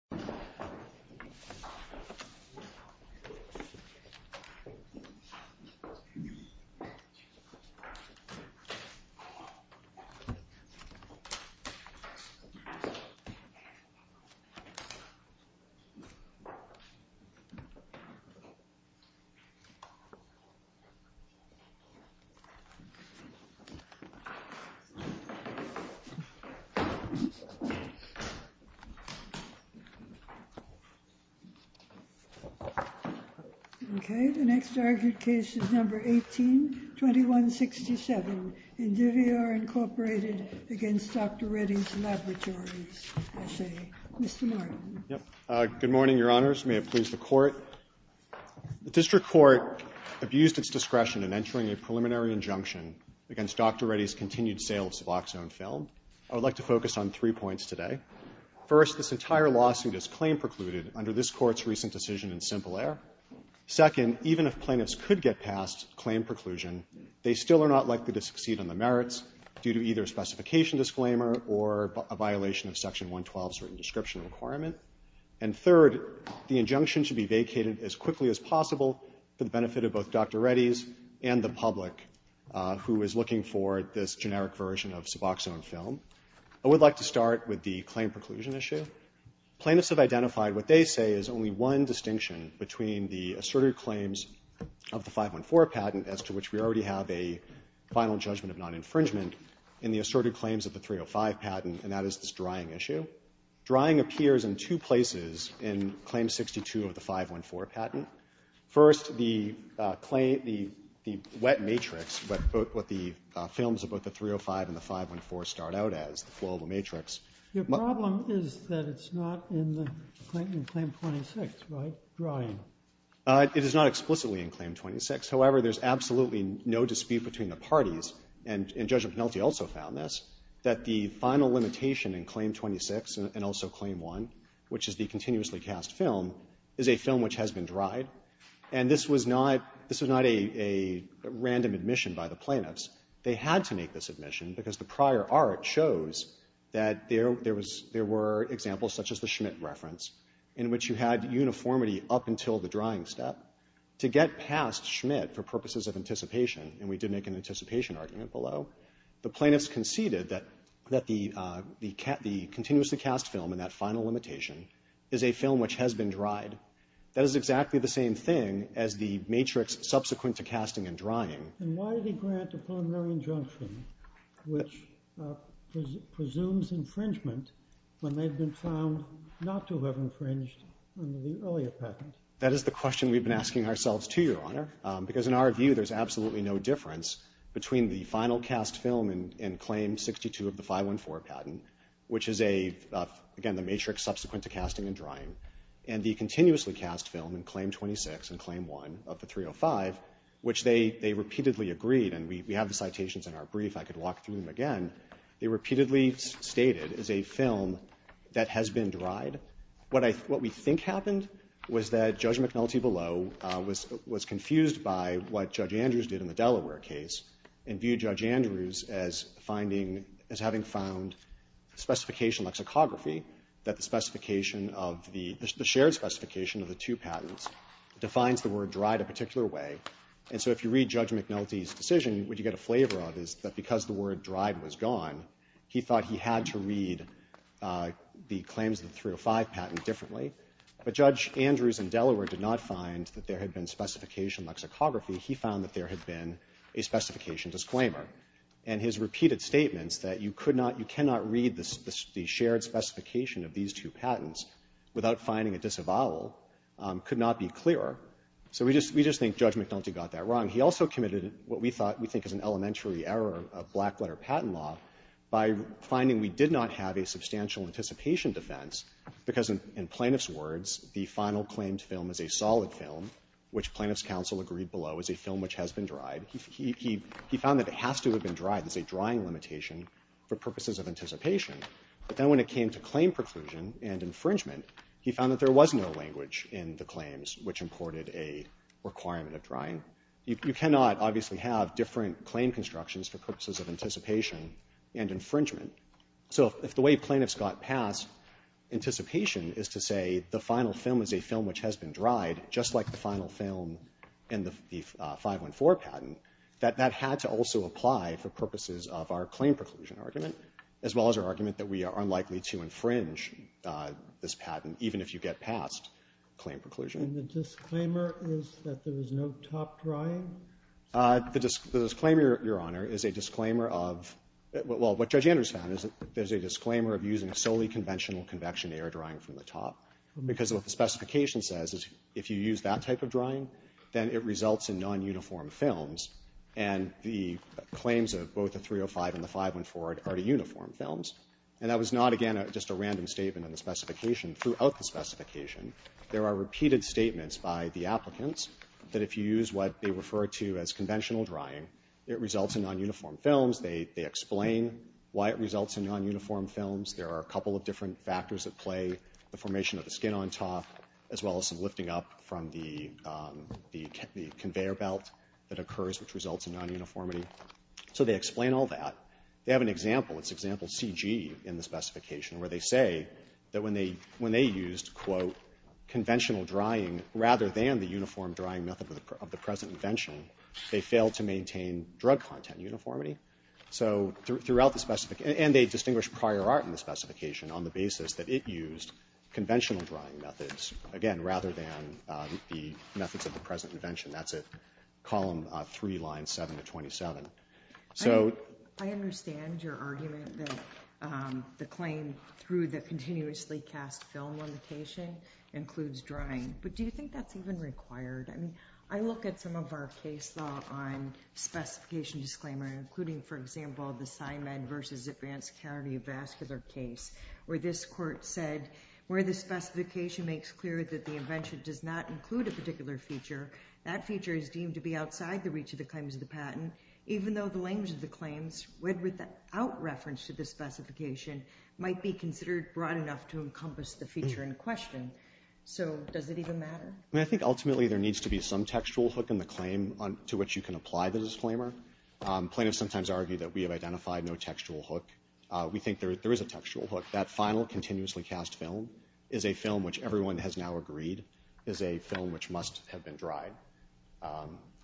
Dr. Reddy's Laboratories, S.A. Okay. The next argued case is number 18-2167, Indivior Incorporated v. Dr. Reddy's Laboratories, S.A. Mr. Martin. Mr. Martin. Good morning, Your Honors. May it please the Court. The District Court abused its discretion in entering a preliminary injunction against Dr. Reddy's continued sale of Suboxone film. I would like to focus on three points today. First, this entire lawsuit is claim precluded under this Court's recent decision in simple error. Second, even if plaintiffs could get past claim preclusion, they still are not likely to succeed on the merits due to either a specification disclaimer or a violation of Section 112's written description requirement. And third, the injunction should be vacated as quickly as possible for the benefit of both Dr. Reddy's and the public who is looking for this generic version of Suboxone film. I would like to start with the claim preclusion issue. Plaintiffs have identified what they say is only one distinction between the asserted claims of the 514 patent, as to which we already have a final judgment of non-infringement, and the asserted claims of the 305 patent, and that is this drying issue. Drying appears in two places in Claim 62 of the 514 patent. First, the wet matrix, what the films of both the 305 and the 514 start out as, the flow of the matrix. Your problem is that it's not in the claim 26, right? Drying. It is not explicitly in Claim 26. However, there's absolutely no dispute between the parties, and Judge O'Connellty also found this, that the final limitation in Claim 26 and also Claim 1, which is the continuously cast film, is a film which has been dried. And this was not a random admission by the plaintiffs. They had to make this admission because the prior art shows that there were examples such as the Schmidt reference, in which you had uniformity up until the drying step. To get past Schmidt for purposes of anticipation, and we did make an anticipation argument below, the plaintiffs conceded that the continuously cast film and that final limitation is a film which has been dried. That is exactly the same thing as the matrix subsequent to casting and drying. And why did he grant a preliminary injunction which presumes infringement when they've been found not to have infringed on the earlier patent? That is the question we've been asking ourselves too, Your Honor. Because in our view, there's absolutely no difference between the final cast film in Claim 62 of the 514 patent, which is a, again, the matrix subsequent to casting and drying, and the continuously cast film in Claim 26 and Claim 1 of the 305, which they repeatedly agreed, and we have the citations in our brief. I could walk through them again. They repeatedly stated, is a film that has been dried. What we think happened was that Judge McNulty below was confused by what Judge Andrews did in the Delaware case, and viewed Judge Andrews as having found specification lexicography, that the shared specification of the two patents defines the word dried a particular way. And so if you read Judge McNulty's decision, what you get a flavor of is that because the word dried was gone, he thought he had to read the claims of the 305 patent differently. But Judge Andrews in Delaware did not find that there had been specification lexicography. He found that there had been a specification disclaimer. And his repeated statements that you could not, you cannot read the shared specification of these two patents without finding a disavowal could not be clear. So we just think Judge McNulty got that wrong. He also committed what we thought, we think is an elementary error of black letter patent law by finding we did not have a substantial anticipation defense, because in plaintiff's words, the final claimed film is a solid film, which plaintiff's counsel agreed below, is a film which has been dried. He found that it has to have been dried. There's a drying limitation for purposes of anticipation. But then when it came to claim preclusion and infringement, he found that there was no language in the claims which imported a requirement of drying. You cannot obviously have different claim constructions for purposes of anticipation and infringement. So if the way plaintiffs got past anticipation is to say the final film is a film which has been dried, just like the final film in the 514 patent, that that had to also apply for purposes of our claim preclusion argument, as well as our argument that we are unlikely to infringe this patent, even if you get past claim preclusion. And the disclaimer is that there was no top drying? The disclaimer, Your Honor, is a disclaimer of what Judge Andrews found is that there's a disclaimer of using solely conventional convection air drying from the top, because what the specification says is if you use that type of drying, then it results in non-uniform films. And the claims of both the 305 and the 514 are the uniform films. And that was not, again, just a random statement in the specification. Throughout the specification, there are repeated statements by the applicants that if you use what they refer to as conventional drying, it results in non-uniform films. They explain why it results in non-uniform films. There are a couple of different factors at play, the formation of the skin on top, as well as some lifting up from the conveyor belt that occurs, which results in non-uniformity. So they explain all that. They have an example. It's example CG in the specification, where they say that when they used, quote, conventional drying rather than the uniform drying method of the present invention, they failed to maintain drug content uniformity. So throughout the specification, and they distinguish prior art in the specification on the basis that it used conventional drying methods, again, rather than the methods of the present invention. That's at column 3, line 7 to 27. So... I understand your argument that the claim through the continuously cast film limitation includes drying, but do you think that's even required? I mean, I look at some of our case law on specification disclaimer, including, for example, the Simon versus Advance County vascular case, where this court said, where the specification makes clear that the invention does not include a particular feature, that feature is deemed to be outside the reach of the claims of the patent, even though the language of the claims, when without reference to the specification, might be considered broad enough to encompass the feature in question. So does it even matter? I mean, I think ultimately there needs to be some textual hook in the claim to which you can apply the disclaimer. Plaintiffs sometimes argue that we have identified no textual hook. We think there is a textual hook. That final continuously cast film is a film which everyone has now agreed is a film which must have been dried.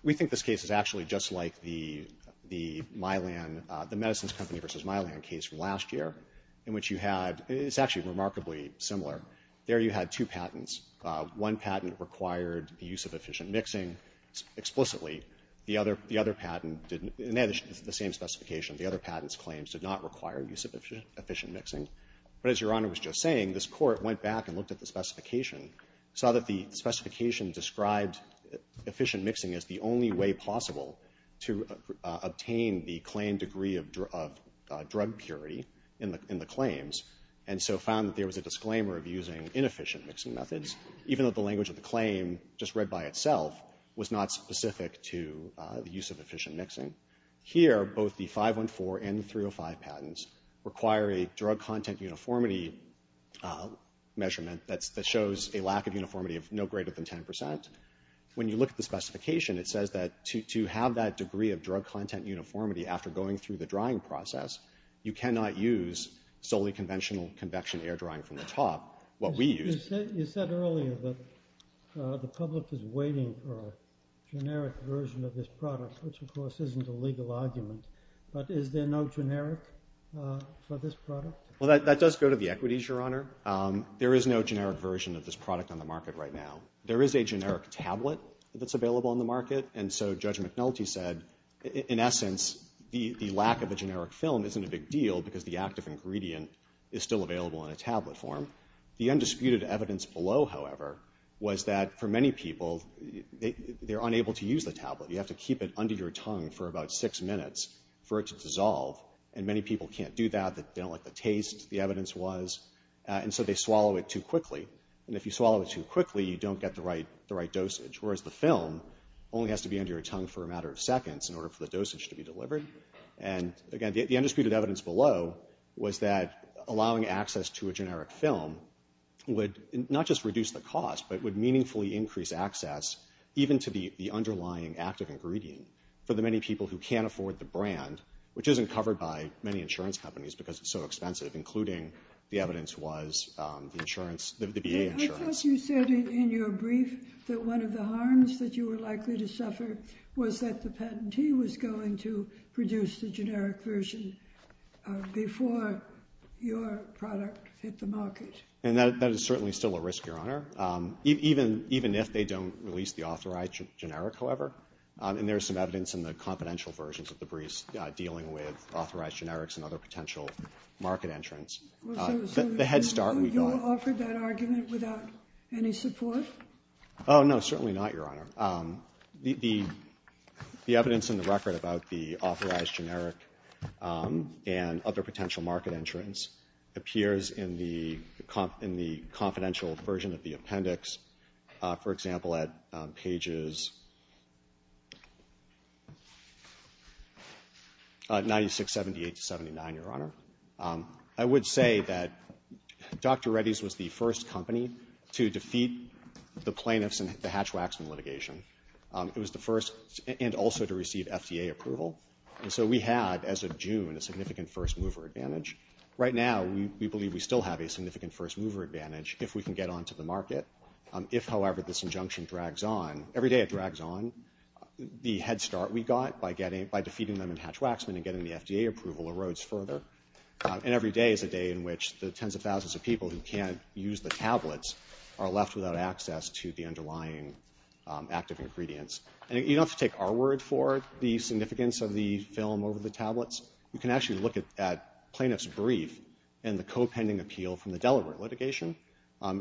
We think this case is actually just like the Mylan, the medicines company versus Mylan case from last year, in which you had... It's actually remarkably similar. There you had two patents. One patent required the use of efficient mixing explicitly. The other patent didn't... And they had the same specification. The other patent's claims did not require use of efficient mixing. But as Your Honor was just saying, this court went back and looked at the specification, saw that the specification described efficient mixing as the only way possible to obtain the claim degree of drug purity in the claims, and so found that there the claim, just read by itself, was not specific to the use of efficient mixing. Here, both the 514 and the 305 patents require a drug content uniformity measurement that shows a lack of uniformity of no greater than 10%. When you look at the specification, it says that to have that degree of drug content uniformity after going through the drying process, you cannot use solely conventional convection air drying from the top. What we use... You said earlier that the public is waiting for a generic version of this product, which of course isn't a legal argument. But is there no generic for this product? Well, that does go to the equities, Your Honor. There is no generic version of this product on the market right now. There is a generic tablet that's available on the market. And so Judge McNulty said, in essence, the lack of a generic film isn't a big deal because the active ingredient is still available in a tablet form. The undisputed evidence below, however, was that for many people, they're unable to use the tablet. You have to keep it under your tongue for about six minutes for it to dissolve. And many people can't do that. They don't like the taste, the evidence was. And so they swallow it too quickly. And if you swallow it too quickly, you don't get the right dosage, whereas the film only has to be under your tongue for a matter of seconds in order for the dosage to be delivered. And again, the undisputed evidence below was that allowing access to a generic film would not just reduce the cost, but would meaningfully increase access even to the underlying active ingredient for the many people who can't afford the brand, which isn't covered by many insurance companies because it's so expensive, including, the evidence was, the insurance, the VA insurance. I thought you said in your brief that one of the harms that you were likely to suffer was that the patentee was going to produce the generic version before your product hit the market. And that is certainly still a risk, Your Honor, even if they don't release the authorized generic, however. And there's some evidence in the confidential versions of the briefs dealing with authorized generics and other potential market entrants. The head start we got. You offered that argument without any support? Oh, no, certainly not, Your Honor. The evidence in the record about the authorized generic and other potential market entrants appears in the confidential version of the appendix, for example, at pages 96, 78 to 79, Your Honor. I would say that Dr. Reddy's was the first company to defeat the plaintiffs in the Hatch-Waxman litigation. It was the first, and also to receive FDA approval. So we had, as of June, a significant first-mover advantage. Right now, we believe we still have a significant first-mover advantage if we can get onto the market. If, however, this injunction drags on. Every day it drags on. The head start we got by defeating them in Hatch-Waxman and getting the FDA approval erodes further. And every day is a day in which the tens of thousands of people who can't use the tablets are left without access to the underlying active ingredients. And you don't have to take our word for the significance of the film over the tablets. You can actually look at plaintiff's brief and the co-pending appeal from the Delaware litigation.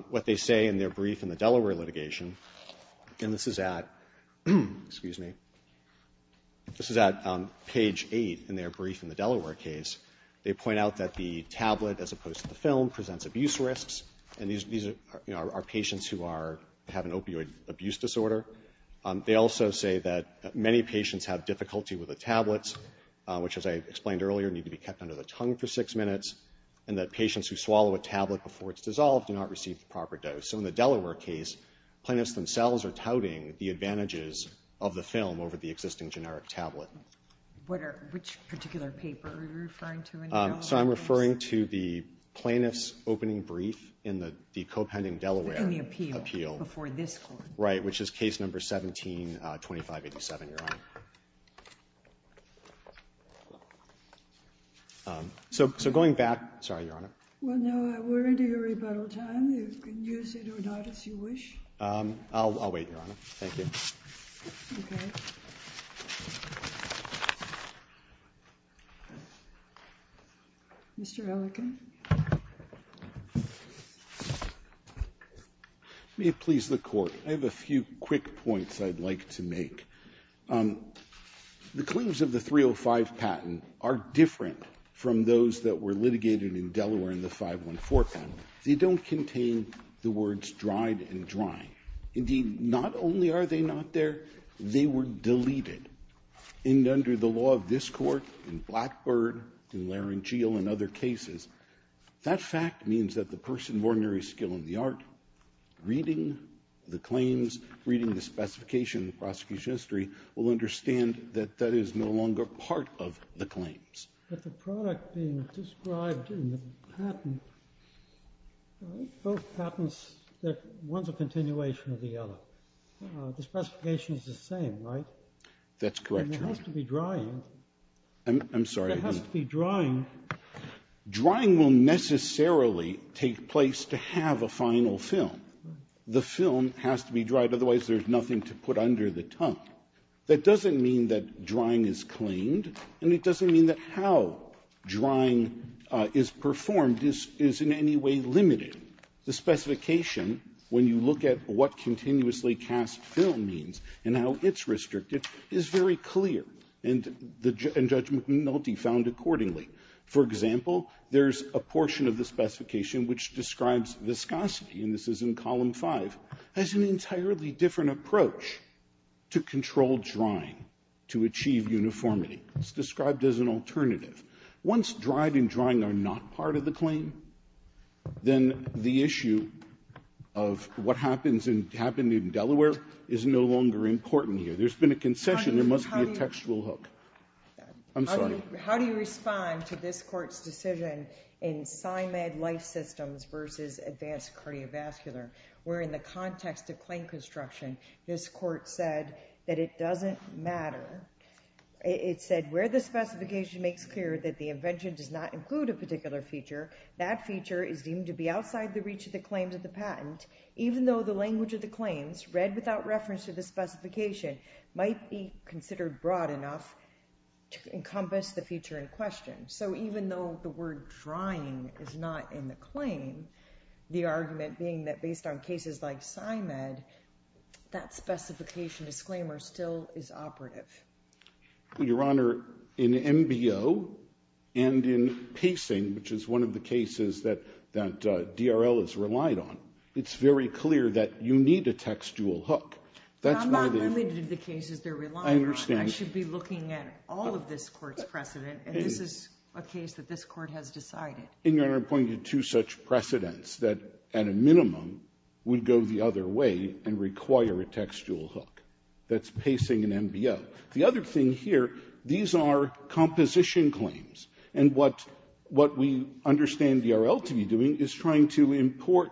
What they say in their brief in the Delaware litigation, and this is at, excuse me, this is at page 8 in their brief in the Delaware case, they point out that the tablet as opposed to the film presents abuse risks. And these are patients who have an opioid abuse disorder. They also say that many patients have difficulty with the tablets, which, as I explained earlier, need to be kept under the tongue for six minutes. And that patients who swallow a tablet before it's dissolved do not receive the proper dose. So in the Delaware case, plaintiffs themselves are touting the advantages of the film over the existing generic tablet. Which particular paper are you referring to in the Delaware case? So I'm referring to the plaintiff's opening brief in the co-pending Delaware appeal. Before this court. Right. Which is case number 172587, Your Honor. So going back, sorry, Your Honor. Well, no, we're into your rebuttal time. You can use it or not, as you wish. I'll wait, Your Honor. Thank you. Okay. Mr. Ellicott. May it please the Court. I have a few quick points I'd like to make. The claims of the 305 patent are different from those that were litigated in Delaware in the 514 patent. They don't contain the words dried and dry. Indeed, not only are they not there, they were deleted. And under the law of this Court, in Blackbird, in Laringeal, and other cases, that fact means that the person of ordinary skill in the art reading the claims, reading the specification in the prosecution history, will understand that that is no longer part of the claims. But the product being described in the patent, both patents, one's a continuation of the other. The specification's the same, right? That's correct, Your Honor. It has to be drying. I'm sorry. It has to be drying. Drying will necessarily take place to have a final film. The film has to be dried. Otherwise, there's nothing to put under the tongue. That doesn't mean that drying is claimed, and it doesn't mean that how drying is performed is in any way limited. The specification, when you look at what continuously cast film means and how it's restricted, is very clear, and Judge McNulty found accordingly. For example, there's a portion of the specification which describes viscosity, and this is in column five, as an entirely different approach to controlled drying, to achieve uniformity. It's described as an alternative. Once dried and drying are not part of the claim, then the issue of what happens in Delaware is no longer important here. There's been a concession. There must be a textual hook. I'm sorry. How do you respond to this court's decision in PsyMed Life Systems versus Advanced Cardiovascular, where in the context of claim construction, this court said that it doesn't matter. It said, where the specification makes clear that the invention does not include a particular feature, that feature is deemed to be outside the reach of the claims of the patent, even though the language of the claims, read without reference to the feature in question. So even though the word drying is not in the claim, the argument being that based on cases like PsyMed, that specification disclaimer still is operative. Your Honor, in MBO and in pacing, which is one of the cases that DRL has relied on, it's very clear that you need a textual hook. I'm not limited to the cases they're relying on. I understand. But you should be looking at all of this court's precedent, and this is a case that this court has decided. And, Your Honor, I'm pointing to two such precedents that at a minimum would go the other way and require a textual hook. That's pacing in MBO. The other thing here, these are composition claims. And what we understand DRL to be doing is trying to import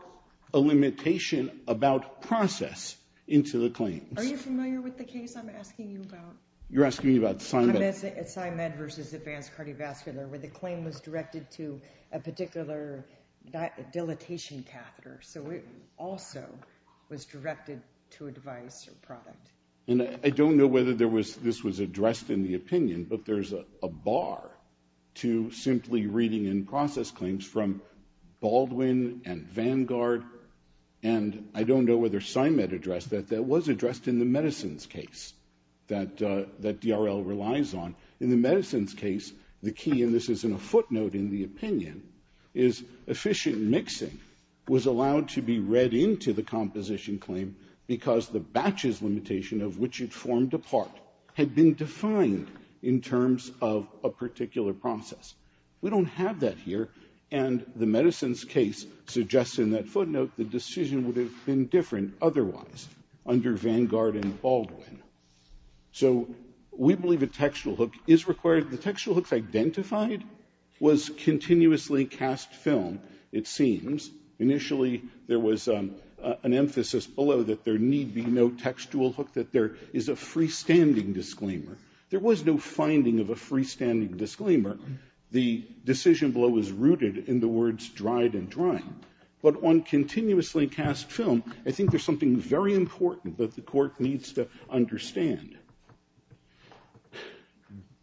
a limitation about process into the claims. Are you familiar with the case I'm asking you about? You're asking me about PsyMed? PsyMed versus Advanced Cardiovascular, where the claim was directed to a particular dilatation catheter. So it also was directed to a device or product. And I don't know whether this was addressed in the opinion, but there's a bar to simply reading in process claims from Baldwin and Vanguard, and I don't know whether PsyMed addressed that. That was addressed in the medicines case that DRL relies on. In the medicines case, the key, and this is in a footnote in the opinion, is efficient mixing was allowed to be read into the composition claim because the batches limitation of which it formed a part had been defined in terms of a particular process. We don't have that here, and the medicines case suggests in that footnote the decision would have been different otherwise under Vanguard and Baldwin. So we believe a textual hook is required. The textual hooks identified was continuously cast film, it seems. Initially, there was an emphasis below that there need be no textual hook, that there is a freestanding disclaimer. There was no finding of a freestanding disclaimer. The decision below was rooted in the words dried and drying. But on continuously cast film, I think there's something very important that the court needs to understand.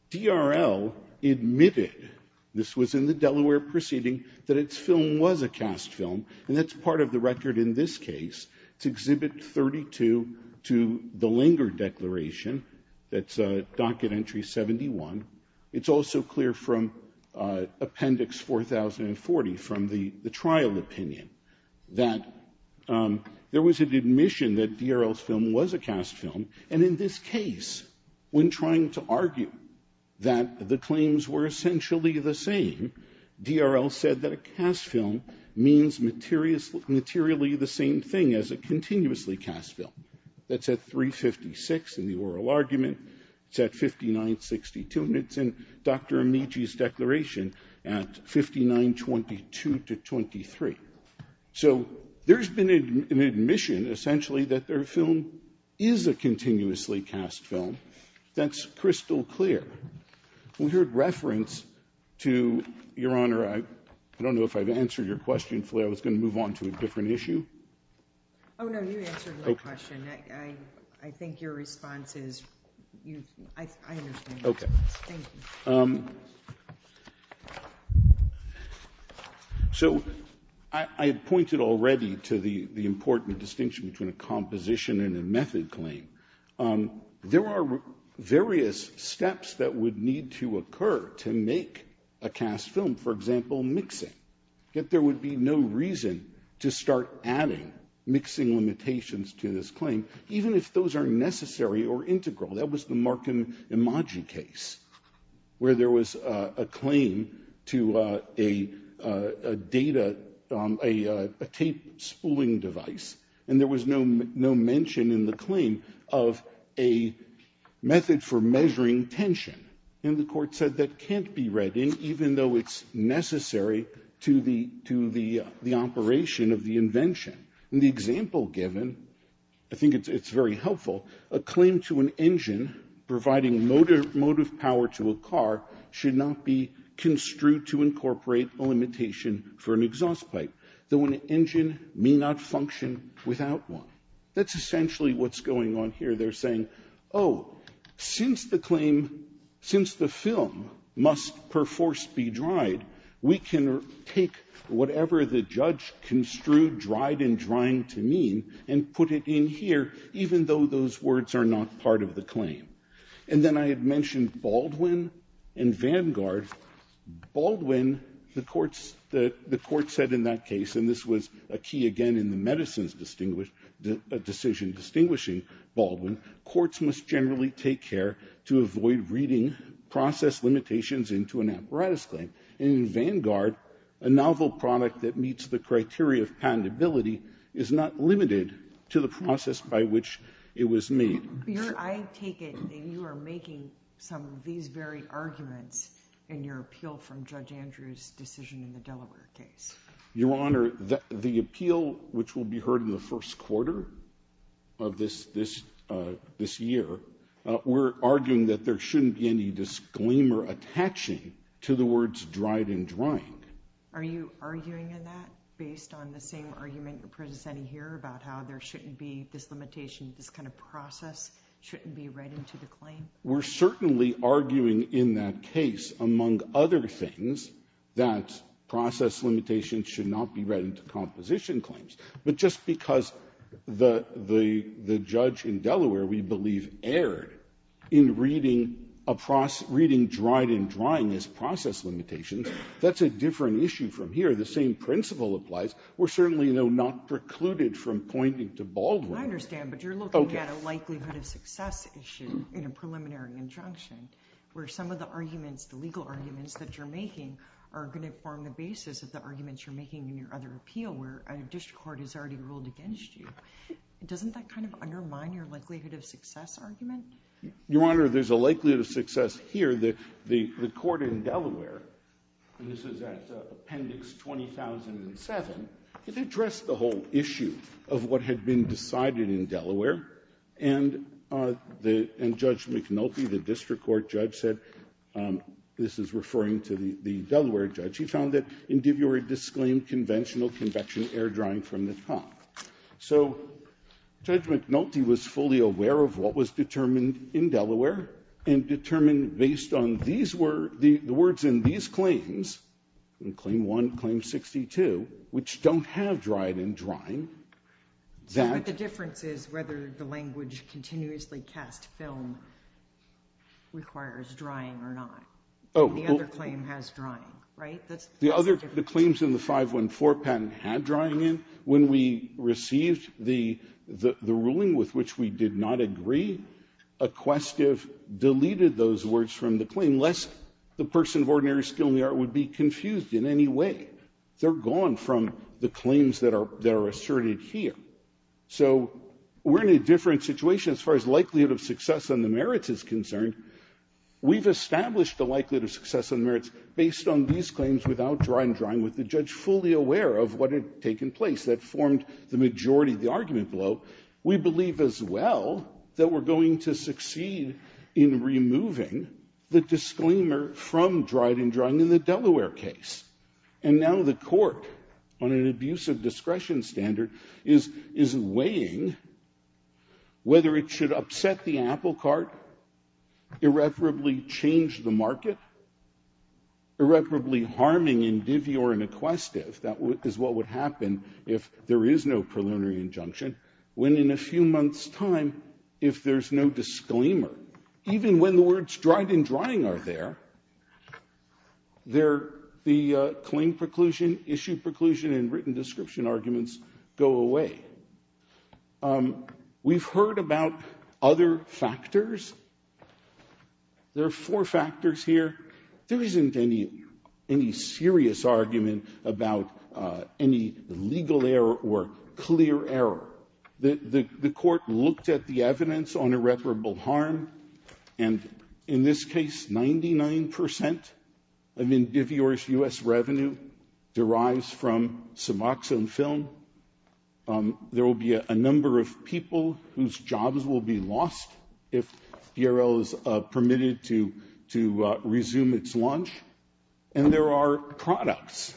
DRL admitted, this was in the Delaware proceeding, that its film was a cast film, and that's part of the record in this case. It's Exhibit 32 to the Langer Declaration. That's a docket entry 71. It's also clear from Appendix 4040 from the trial opinion that there was an admission that DRL's film was a cast film, and in this case, when trying to argue that the claims were essentially the same, DRL said that a cast film means materially the same thing as a continuously cast film. That's at 356 in the oral argument. It's at 5962, and it's in Dr. Amici's declaration at 5922 to 23. So there's been an admission, essentially, that their film is a continuously cast film. That's crystal clear. We heard reference to, Your Honor, I don't know if I've answered your question fully. I was going to move on to a different issue. Oh, no, you answered my question. I think your response is, I understand. Okay. Thank you. So I pointed already to the important distinction between a composition and a method claim. There are various steps that would need to occur to make a cast film, for example, mixing. Yet there would be no reason to start adding mixing limitations to this claim, even if those are necessary or integral. That was the Markin-Imagi case, where there was a claim to a data, a tape spooling device, and there was no mention in the claim of a method for measuring tension. And the court said that can't be read in, even though it's necessary to the operation of the invention. In the example given, I think it's very helpful, a claim to an engine providing motive power to a car should not be construed to incorporate a limitation for an exhaust pipe, though an engine may not function without one. That's essentially what's going on here. They're saying, oh, since the claim, since the film must perforce be dried, we can take whatever the judge construed dried and drying to mean and put it in here, even though those words are not part of the claim. And then I had mentioned Baldwin and Vanguard. Baldwin, the courts, the court said in that case, and this was a key again in the decision distinguishing Baldwin, courts must generally take care to avoid reading process limitations into an apparatus claim. And in Vanguard, a novel product that meets the criteria of patentability is not limited to the process by which it was made. Your Honor, I take it that you are making some of these very arguments in your appeal from Judge Andrews' decision in the Delaware case. Your Honor, the appeal, which will be heard in the first quarter of this year, we're arguing that there shouldn't be any disclaimer attaching to the words dried and drying. Are you arguing in that based on the same argument you're presenting here about how there shouldn't be this limitation, this kind of process shouldn't be read into the claim? We're certainly arguing in that case, among other things, that process limitations should not be read into composition claims. But just because the judge in Delaware, we believe, erred in reading dried and drying as process limitations, that's a different issue from here. The same principle applies. We're certainly, though, not precluded from pointing to Baldwin. I understand, but you're looking at a likelihood of success issue in a preliminary injunction, where some of the arguments, the legal arguments that you're making, are going to form the basis of the arguments you're making in your other appeal, where a district court has already ruled against you. Doesn't that kind of undermine your likelihood of success argument? Your Honor, there's a likelihood of success here. The court in Delaware, and this is at Appendix 20007, it addressed the whole issue of what had been decided in Delaware. And the Judge McNulty, the district court judge, said, this is referring to the Delaware judge, he found that individuals disclaimed conventional convection air drying from the top. So Judge McNulty was fully aware of what was determined in Delaware and determined based on these words, the words in these claims, in Claim 1, Claim 62, which don't have dried in drying, that the difference is whether the language continuously cast film requires drying or not. The other claim has drying, right? That's the difference. The other claims in the 514 patent had drying in. When we received the ruling with which we did not agree, Equestive deleted those words from the claim, lest the person of ordinary skill in the art would be confused in any way. They're gone from the claims that are asserted here. So we're in a different situation as far as likelihood of success on the merits is concerned. We've established the likelihood of success on the merits based on these claims without drying in drying, with the judge fully aware of what had taken place that formed the majority of the argument below. We believe as well that we're going to succeed in removing the disclaimer from dried in drying in the Delaware case. And now the court, on an abuse of discretion standard, is weighing whether it should upset the apple cart, irreparably change the market, irreparably harming in divvy or in Equestive. That is what would happen if there is no preliminary injunction. When in a few months' time, if there's no disclaimer, even when the words dried in drying are there, the claim preclusion, issue preclusion, and written description arguments go away. We've heard about other factors. There are four factors here. There isn't any serious argument about any legal error or clear error. The court looked at the evidence on irreparable harm, and in this case, 99 percent of in divvy or U.S. revenue derives from Suboxone film. There will be a number of people whose jobs will be lost if DRL is permitted to resume its launch, and there are products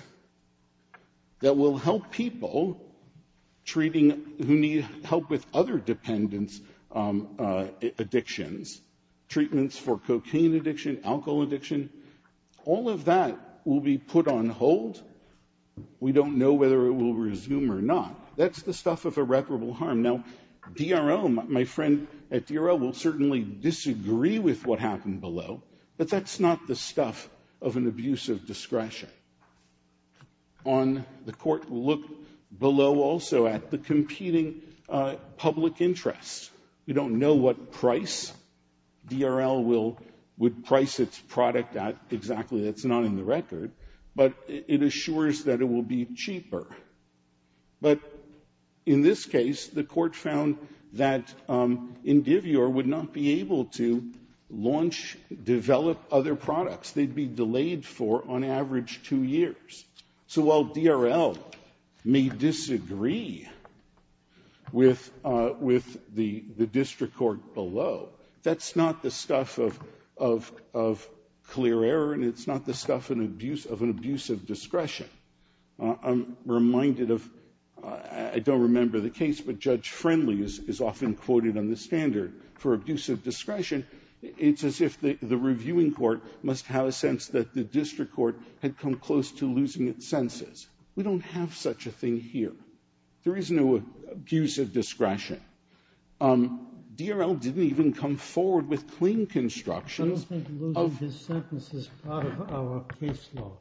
that will help people who need help with other dependence addictions, treatments for cocaine addiction, alcohol addiction. All of that will be put on hold. We don't know whether it will resume or not. That's the stuff of irreparable harm. Now, DRL, my friend at DRL will certainly disagree with what happened below, but that's not the stuff of an abuse of discretion. On the court, we'll look below also at the competing public interests. We don't know what price DRL will price its product at exactly. That's not in the record, but it assures that it will be cheaper. But in this case, the court found that in divvy or would not be able to launch, develop other products, they'd be delayed for, on average, two years. So while DRL may disagree with the district court below, that's not the stuff of clear error and it's not the stuff of an abuse of discretion. I'm reminded of, I don't remember the case, but Judge Friendly is often quoted on the standard for abuse of discretion, it's as if the reviewing court must have a sense that the district court had come close to losing its senses. We don't have such a thing here. There is no abuse of discretion. DRL didn't even come forward with clean constructions of the sentence as part of our case law.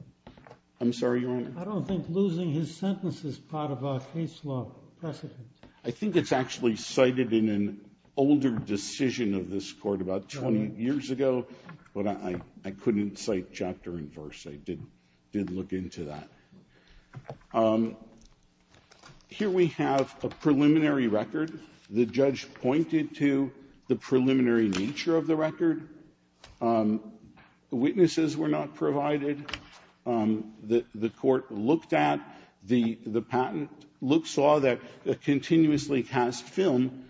I'm sorry, Your Honor. I don't think losing his sentence is part of our case law precedent. I think it's actually cited in an older decision of this Court about 20 years ago, but I couldn't cite chapter and verse. I did look into that. Here we have a preliminary record. The judge pointed to the preliminary nature of the record. Witnesses were not provided. The Court looked at the patent, saw that a continuously cast film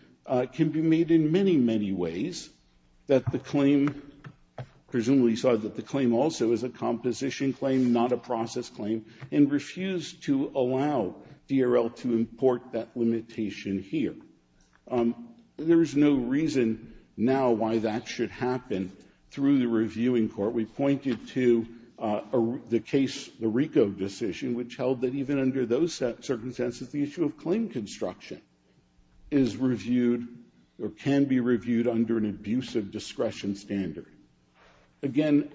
can be made in many, many ways, that the claim, presumably saw that the claim also is a composition claim, not a process claim, and refused to allow DRL to import that limitation here. There is no reason now why that should happen through the reviewing court. We pointed to the case, the RICO decision, which held that even under those circumstances the issue of claim construction is reviewed or can be reviewed under an abusive discretion standard. Again,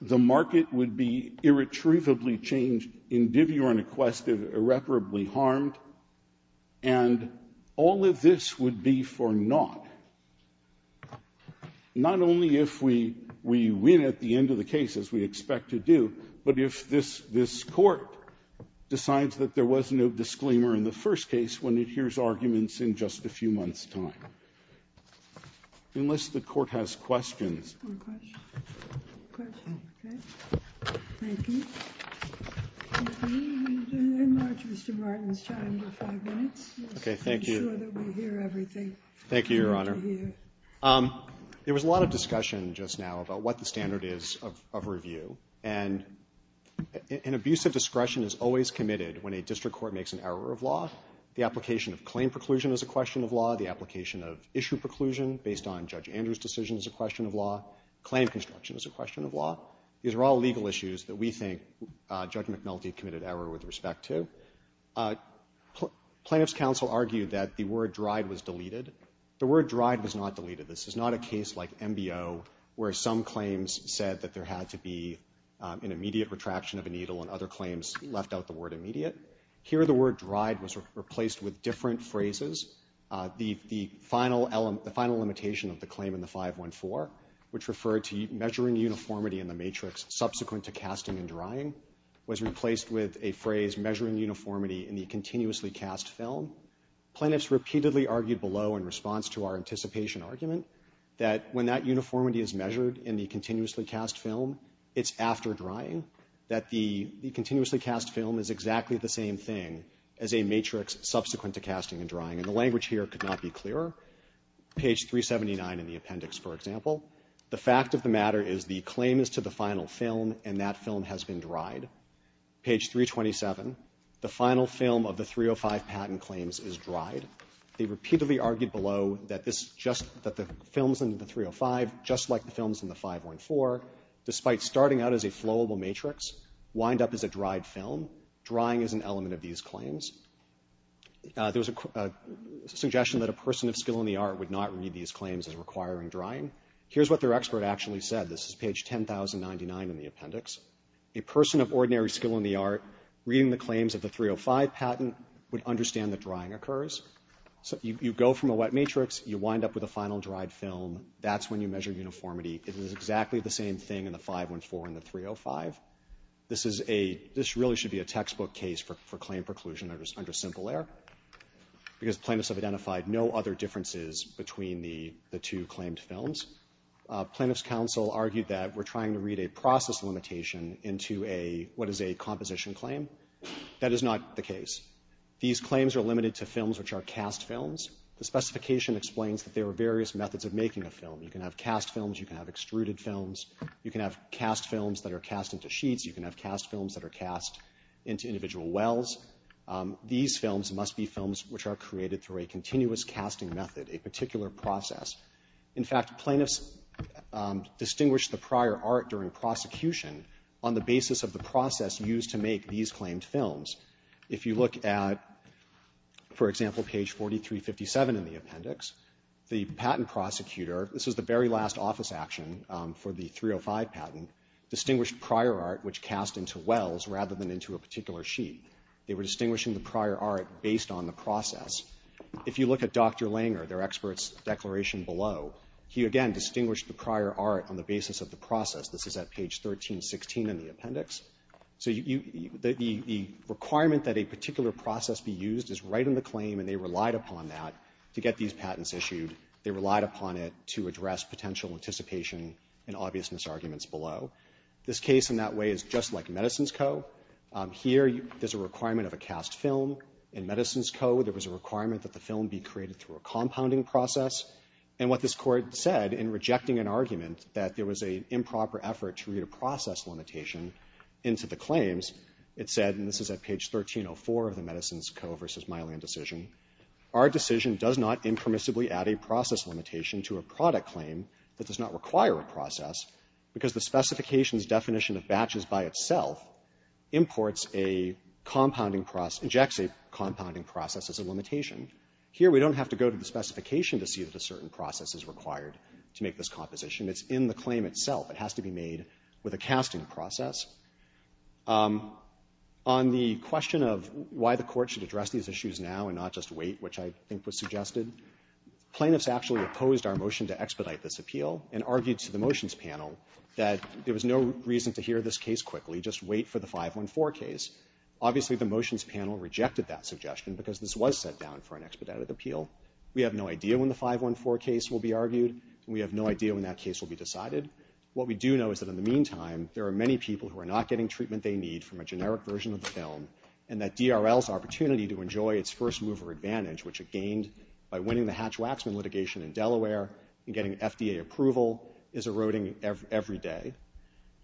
the market would be irretrievably changed, individually requested, irreparably harmed, and all of this would be for naught. Not only if we win at the end of the case, as we expect to do, but if this Court decides that there was no disclaimer in the first case when it hears arguments in just a few months' time. Unless the Court has questions. Thank you, Your Honor. There was a lot of discussion just now about what the standard is of review. And an abusive discretion is always committed when a district court makes an error of law. The application of claim preclusion is a question of law. The application of issue preclusion, based on Judge Andrews' decision, is a question of law. Claim construction is a question of law. These are all legal issues that we think Judge McNulty committed error with respect to. Plaintiff's counsel argued that the word dried was deleted. The word dried was not deleted. This is not a case like MBO where some claims said that there had to be an immediate retraction of a needle and other claims left out the word immediate. Here the word dried was replaced with different phrases. The final limitation of the claim in the 514, which referred to measuring uniformity in the matrix subsequent to casting and drying, was replaced with a phrase measuring uniformity in the continuously cast film. Plaintiff's repeatedly argued below in response to our anticipation argument that when that uniformity is measured in the continuously cast film, it's after drying that the continuously cast film is exactly the same thing as a matrix subsequent to casting and drying. And the language here could not be clearer. Page 379 in the appendix, for example, the fact of the matter is the claim is to the final film and that film has been dried. Page 327, the final film of the 305 patent claims is dried. They repeatedly argued below that this just that the films in the 305, just like the films in the 514, despite starting out as a flowable matrix, wind up as a dried film. Drying is an element of these claims. There's a suggestion that a person of skill in the art would not read these claims as requiring drying. Here's what their expert actually said. This is page 10,099 in the appendix. A person of ordinary skill in the art reading the claims of the 305 patent would understand that drying occurs. So you go from a wet matrix, you wind up with a final dried film, that's when you measure uniformity. It is exactly the same thing in the 514 and the 305. This really should be a textbook case for claim preclusion under simple error because plaintiffs have identified no other differences between the two claimed films. Plaintiff's counsel argued that we're trying to read a process limitation into what is a composition claim. That is not the case. These claims are limited to films which are cast films. The specification explains that there are various methods of making a film. You can have cast films, you can have extruded films, you can have cast films that are cast into sheets, you can have cast films that are cast into individual wells. These films must be films which are created through a continuous casting method, a particular process. In fact, plaintiffs distinguished the prior art during prosecution on the basis of the process used to make these claimed films. If you look at, for example, page 4357 in the appendix, the patent prosecutor this is the very last office action for the 305 patent, distinguished prior art which cast into wells rather than into a particular sheet. They were distinguishing the prior art based on the process. If you look at Dr. Langer, their expert's declaration below, he again distinguished the prior art on the basis of the process. This is at page 1316 in the appendix. So the requirement that a particular process be used is right in the claim and they relied upon that to get these patents issued. They relied upon it to address potential anticipation and obviousness arguments below. This case in that way is just like Medicines Co. Here, there's a requirement of a cast film. In Medicines Co., there was a requirement that the film be created through a compounding process. And what this court said in rejecting an argument that there was an improper effort to read a process limitation into the claims, it said, and this is at page 1304 of the Medicines Co. v. Milan decision. It said, indeed, our decision does not impermissibly add a process limitation to a product claim that does not require a process because the specification's definition of batches by itself imports a compounding process, ejects a compounding process as a limitation. Here, we don't have to go to the specification to see that a certain process is required to make this composition. It's in the claim itself. It has to be made with a casting process. On the question of why the court should address these issues now and not just wait, which I think was suggested, plaintiffs actually opposed our motion to expedite this appeal and argued to the motions panel that there was no reason to hear this case quickly, just wait for the 514 case. Obviously, the motions panel rejected that suggestion because this was set down for an expedited appeal. We have no idea when the 514 case will be argued. We have no idea when that case will be decided. What we do know is that in the meantime, there are many people who are not getting treatment they need from a generic version of the film and that DRL's opportunity to enjoy its first mover advantage, which it gained by winning the Hatch-Waxman litigation in Delaware and getting FDA approval, is eroding every day.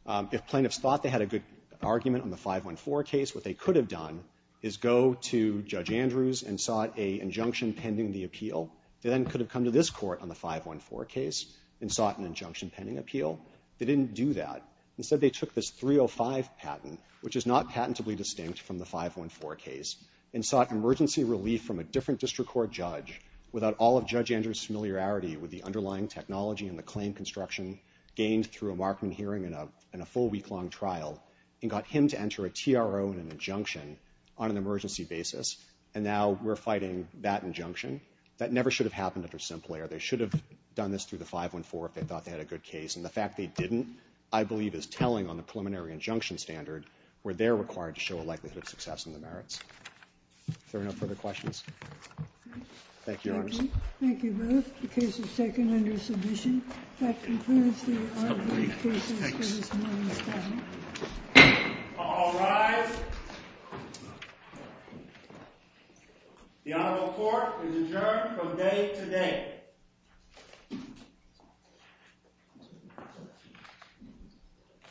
If plaintiffs thought they had a good argument on the 514 case, what they could have done is go to Judge Andrews and sought an injunction pending the appeal. They then could have come to this court on the 514 case and sought an injunction pending appeal. They didn't do that. Instead, they took this 305 patent, which is not patentably distinct from the 514 case, and sought emergency relief from a different district court judge without all of Judge Andrews' familiarity with the underlying technology and the claim construction gained through a Markman hearing and a full week-long trial, and got him to enter a TRO and an injunction on an emergency basis, and now we're fighting that injunction. That never should have happened under Simple Air. They should have done this through the 514 if they thought they had a good case, and the fact they didn't, I believe, is telling on the preliminary injunction standard where they're required to show a likelihood of success in the merits. Are there no further questions? Thank you, Your Honors. Thank you both. The case is taken under submission. That concludes the argument process for this morning's hearing. All rise. The Honorable Court is adjourned from day to day.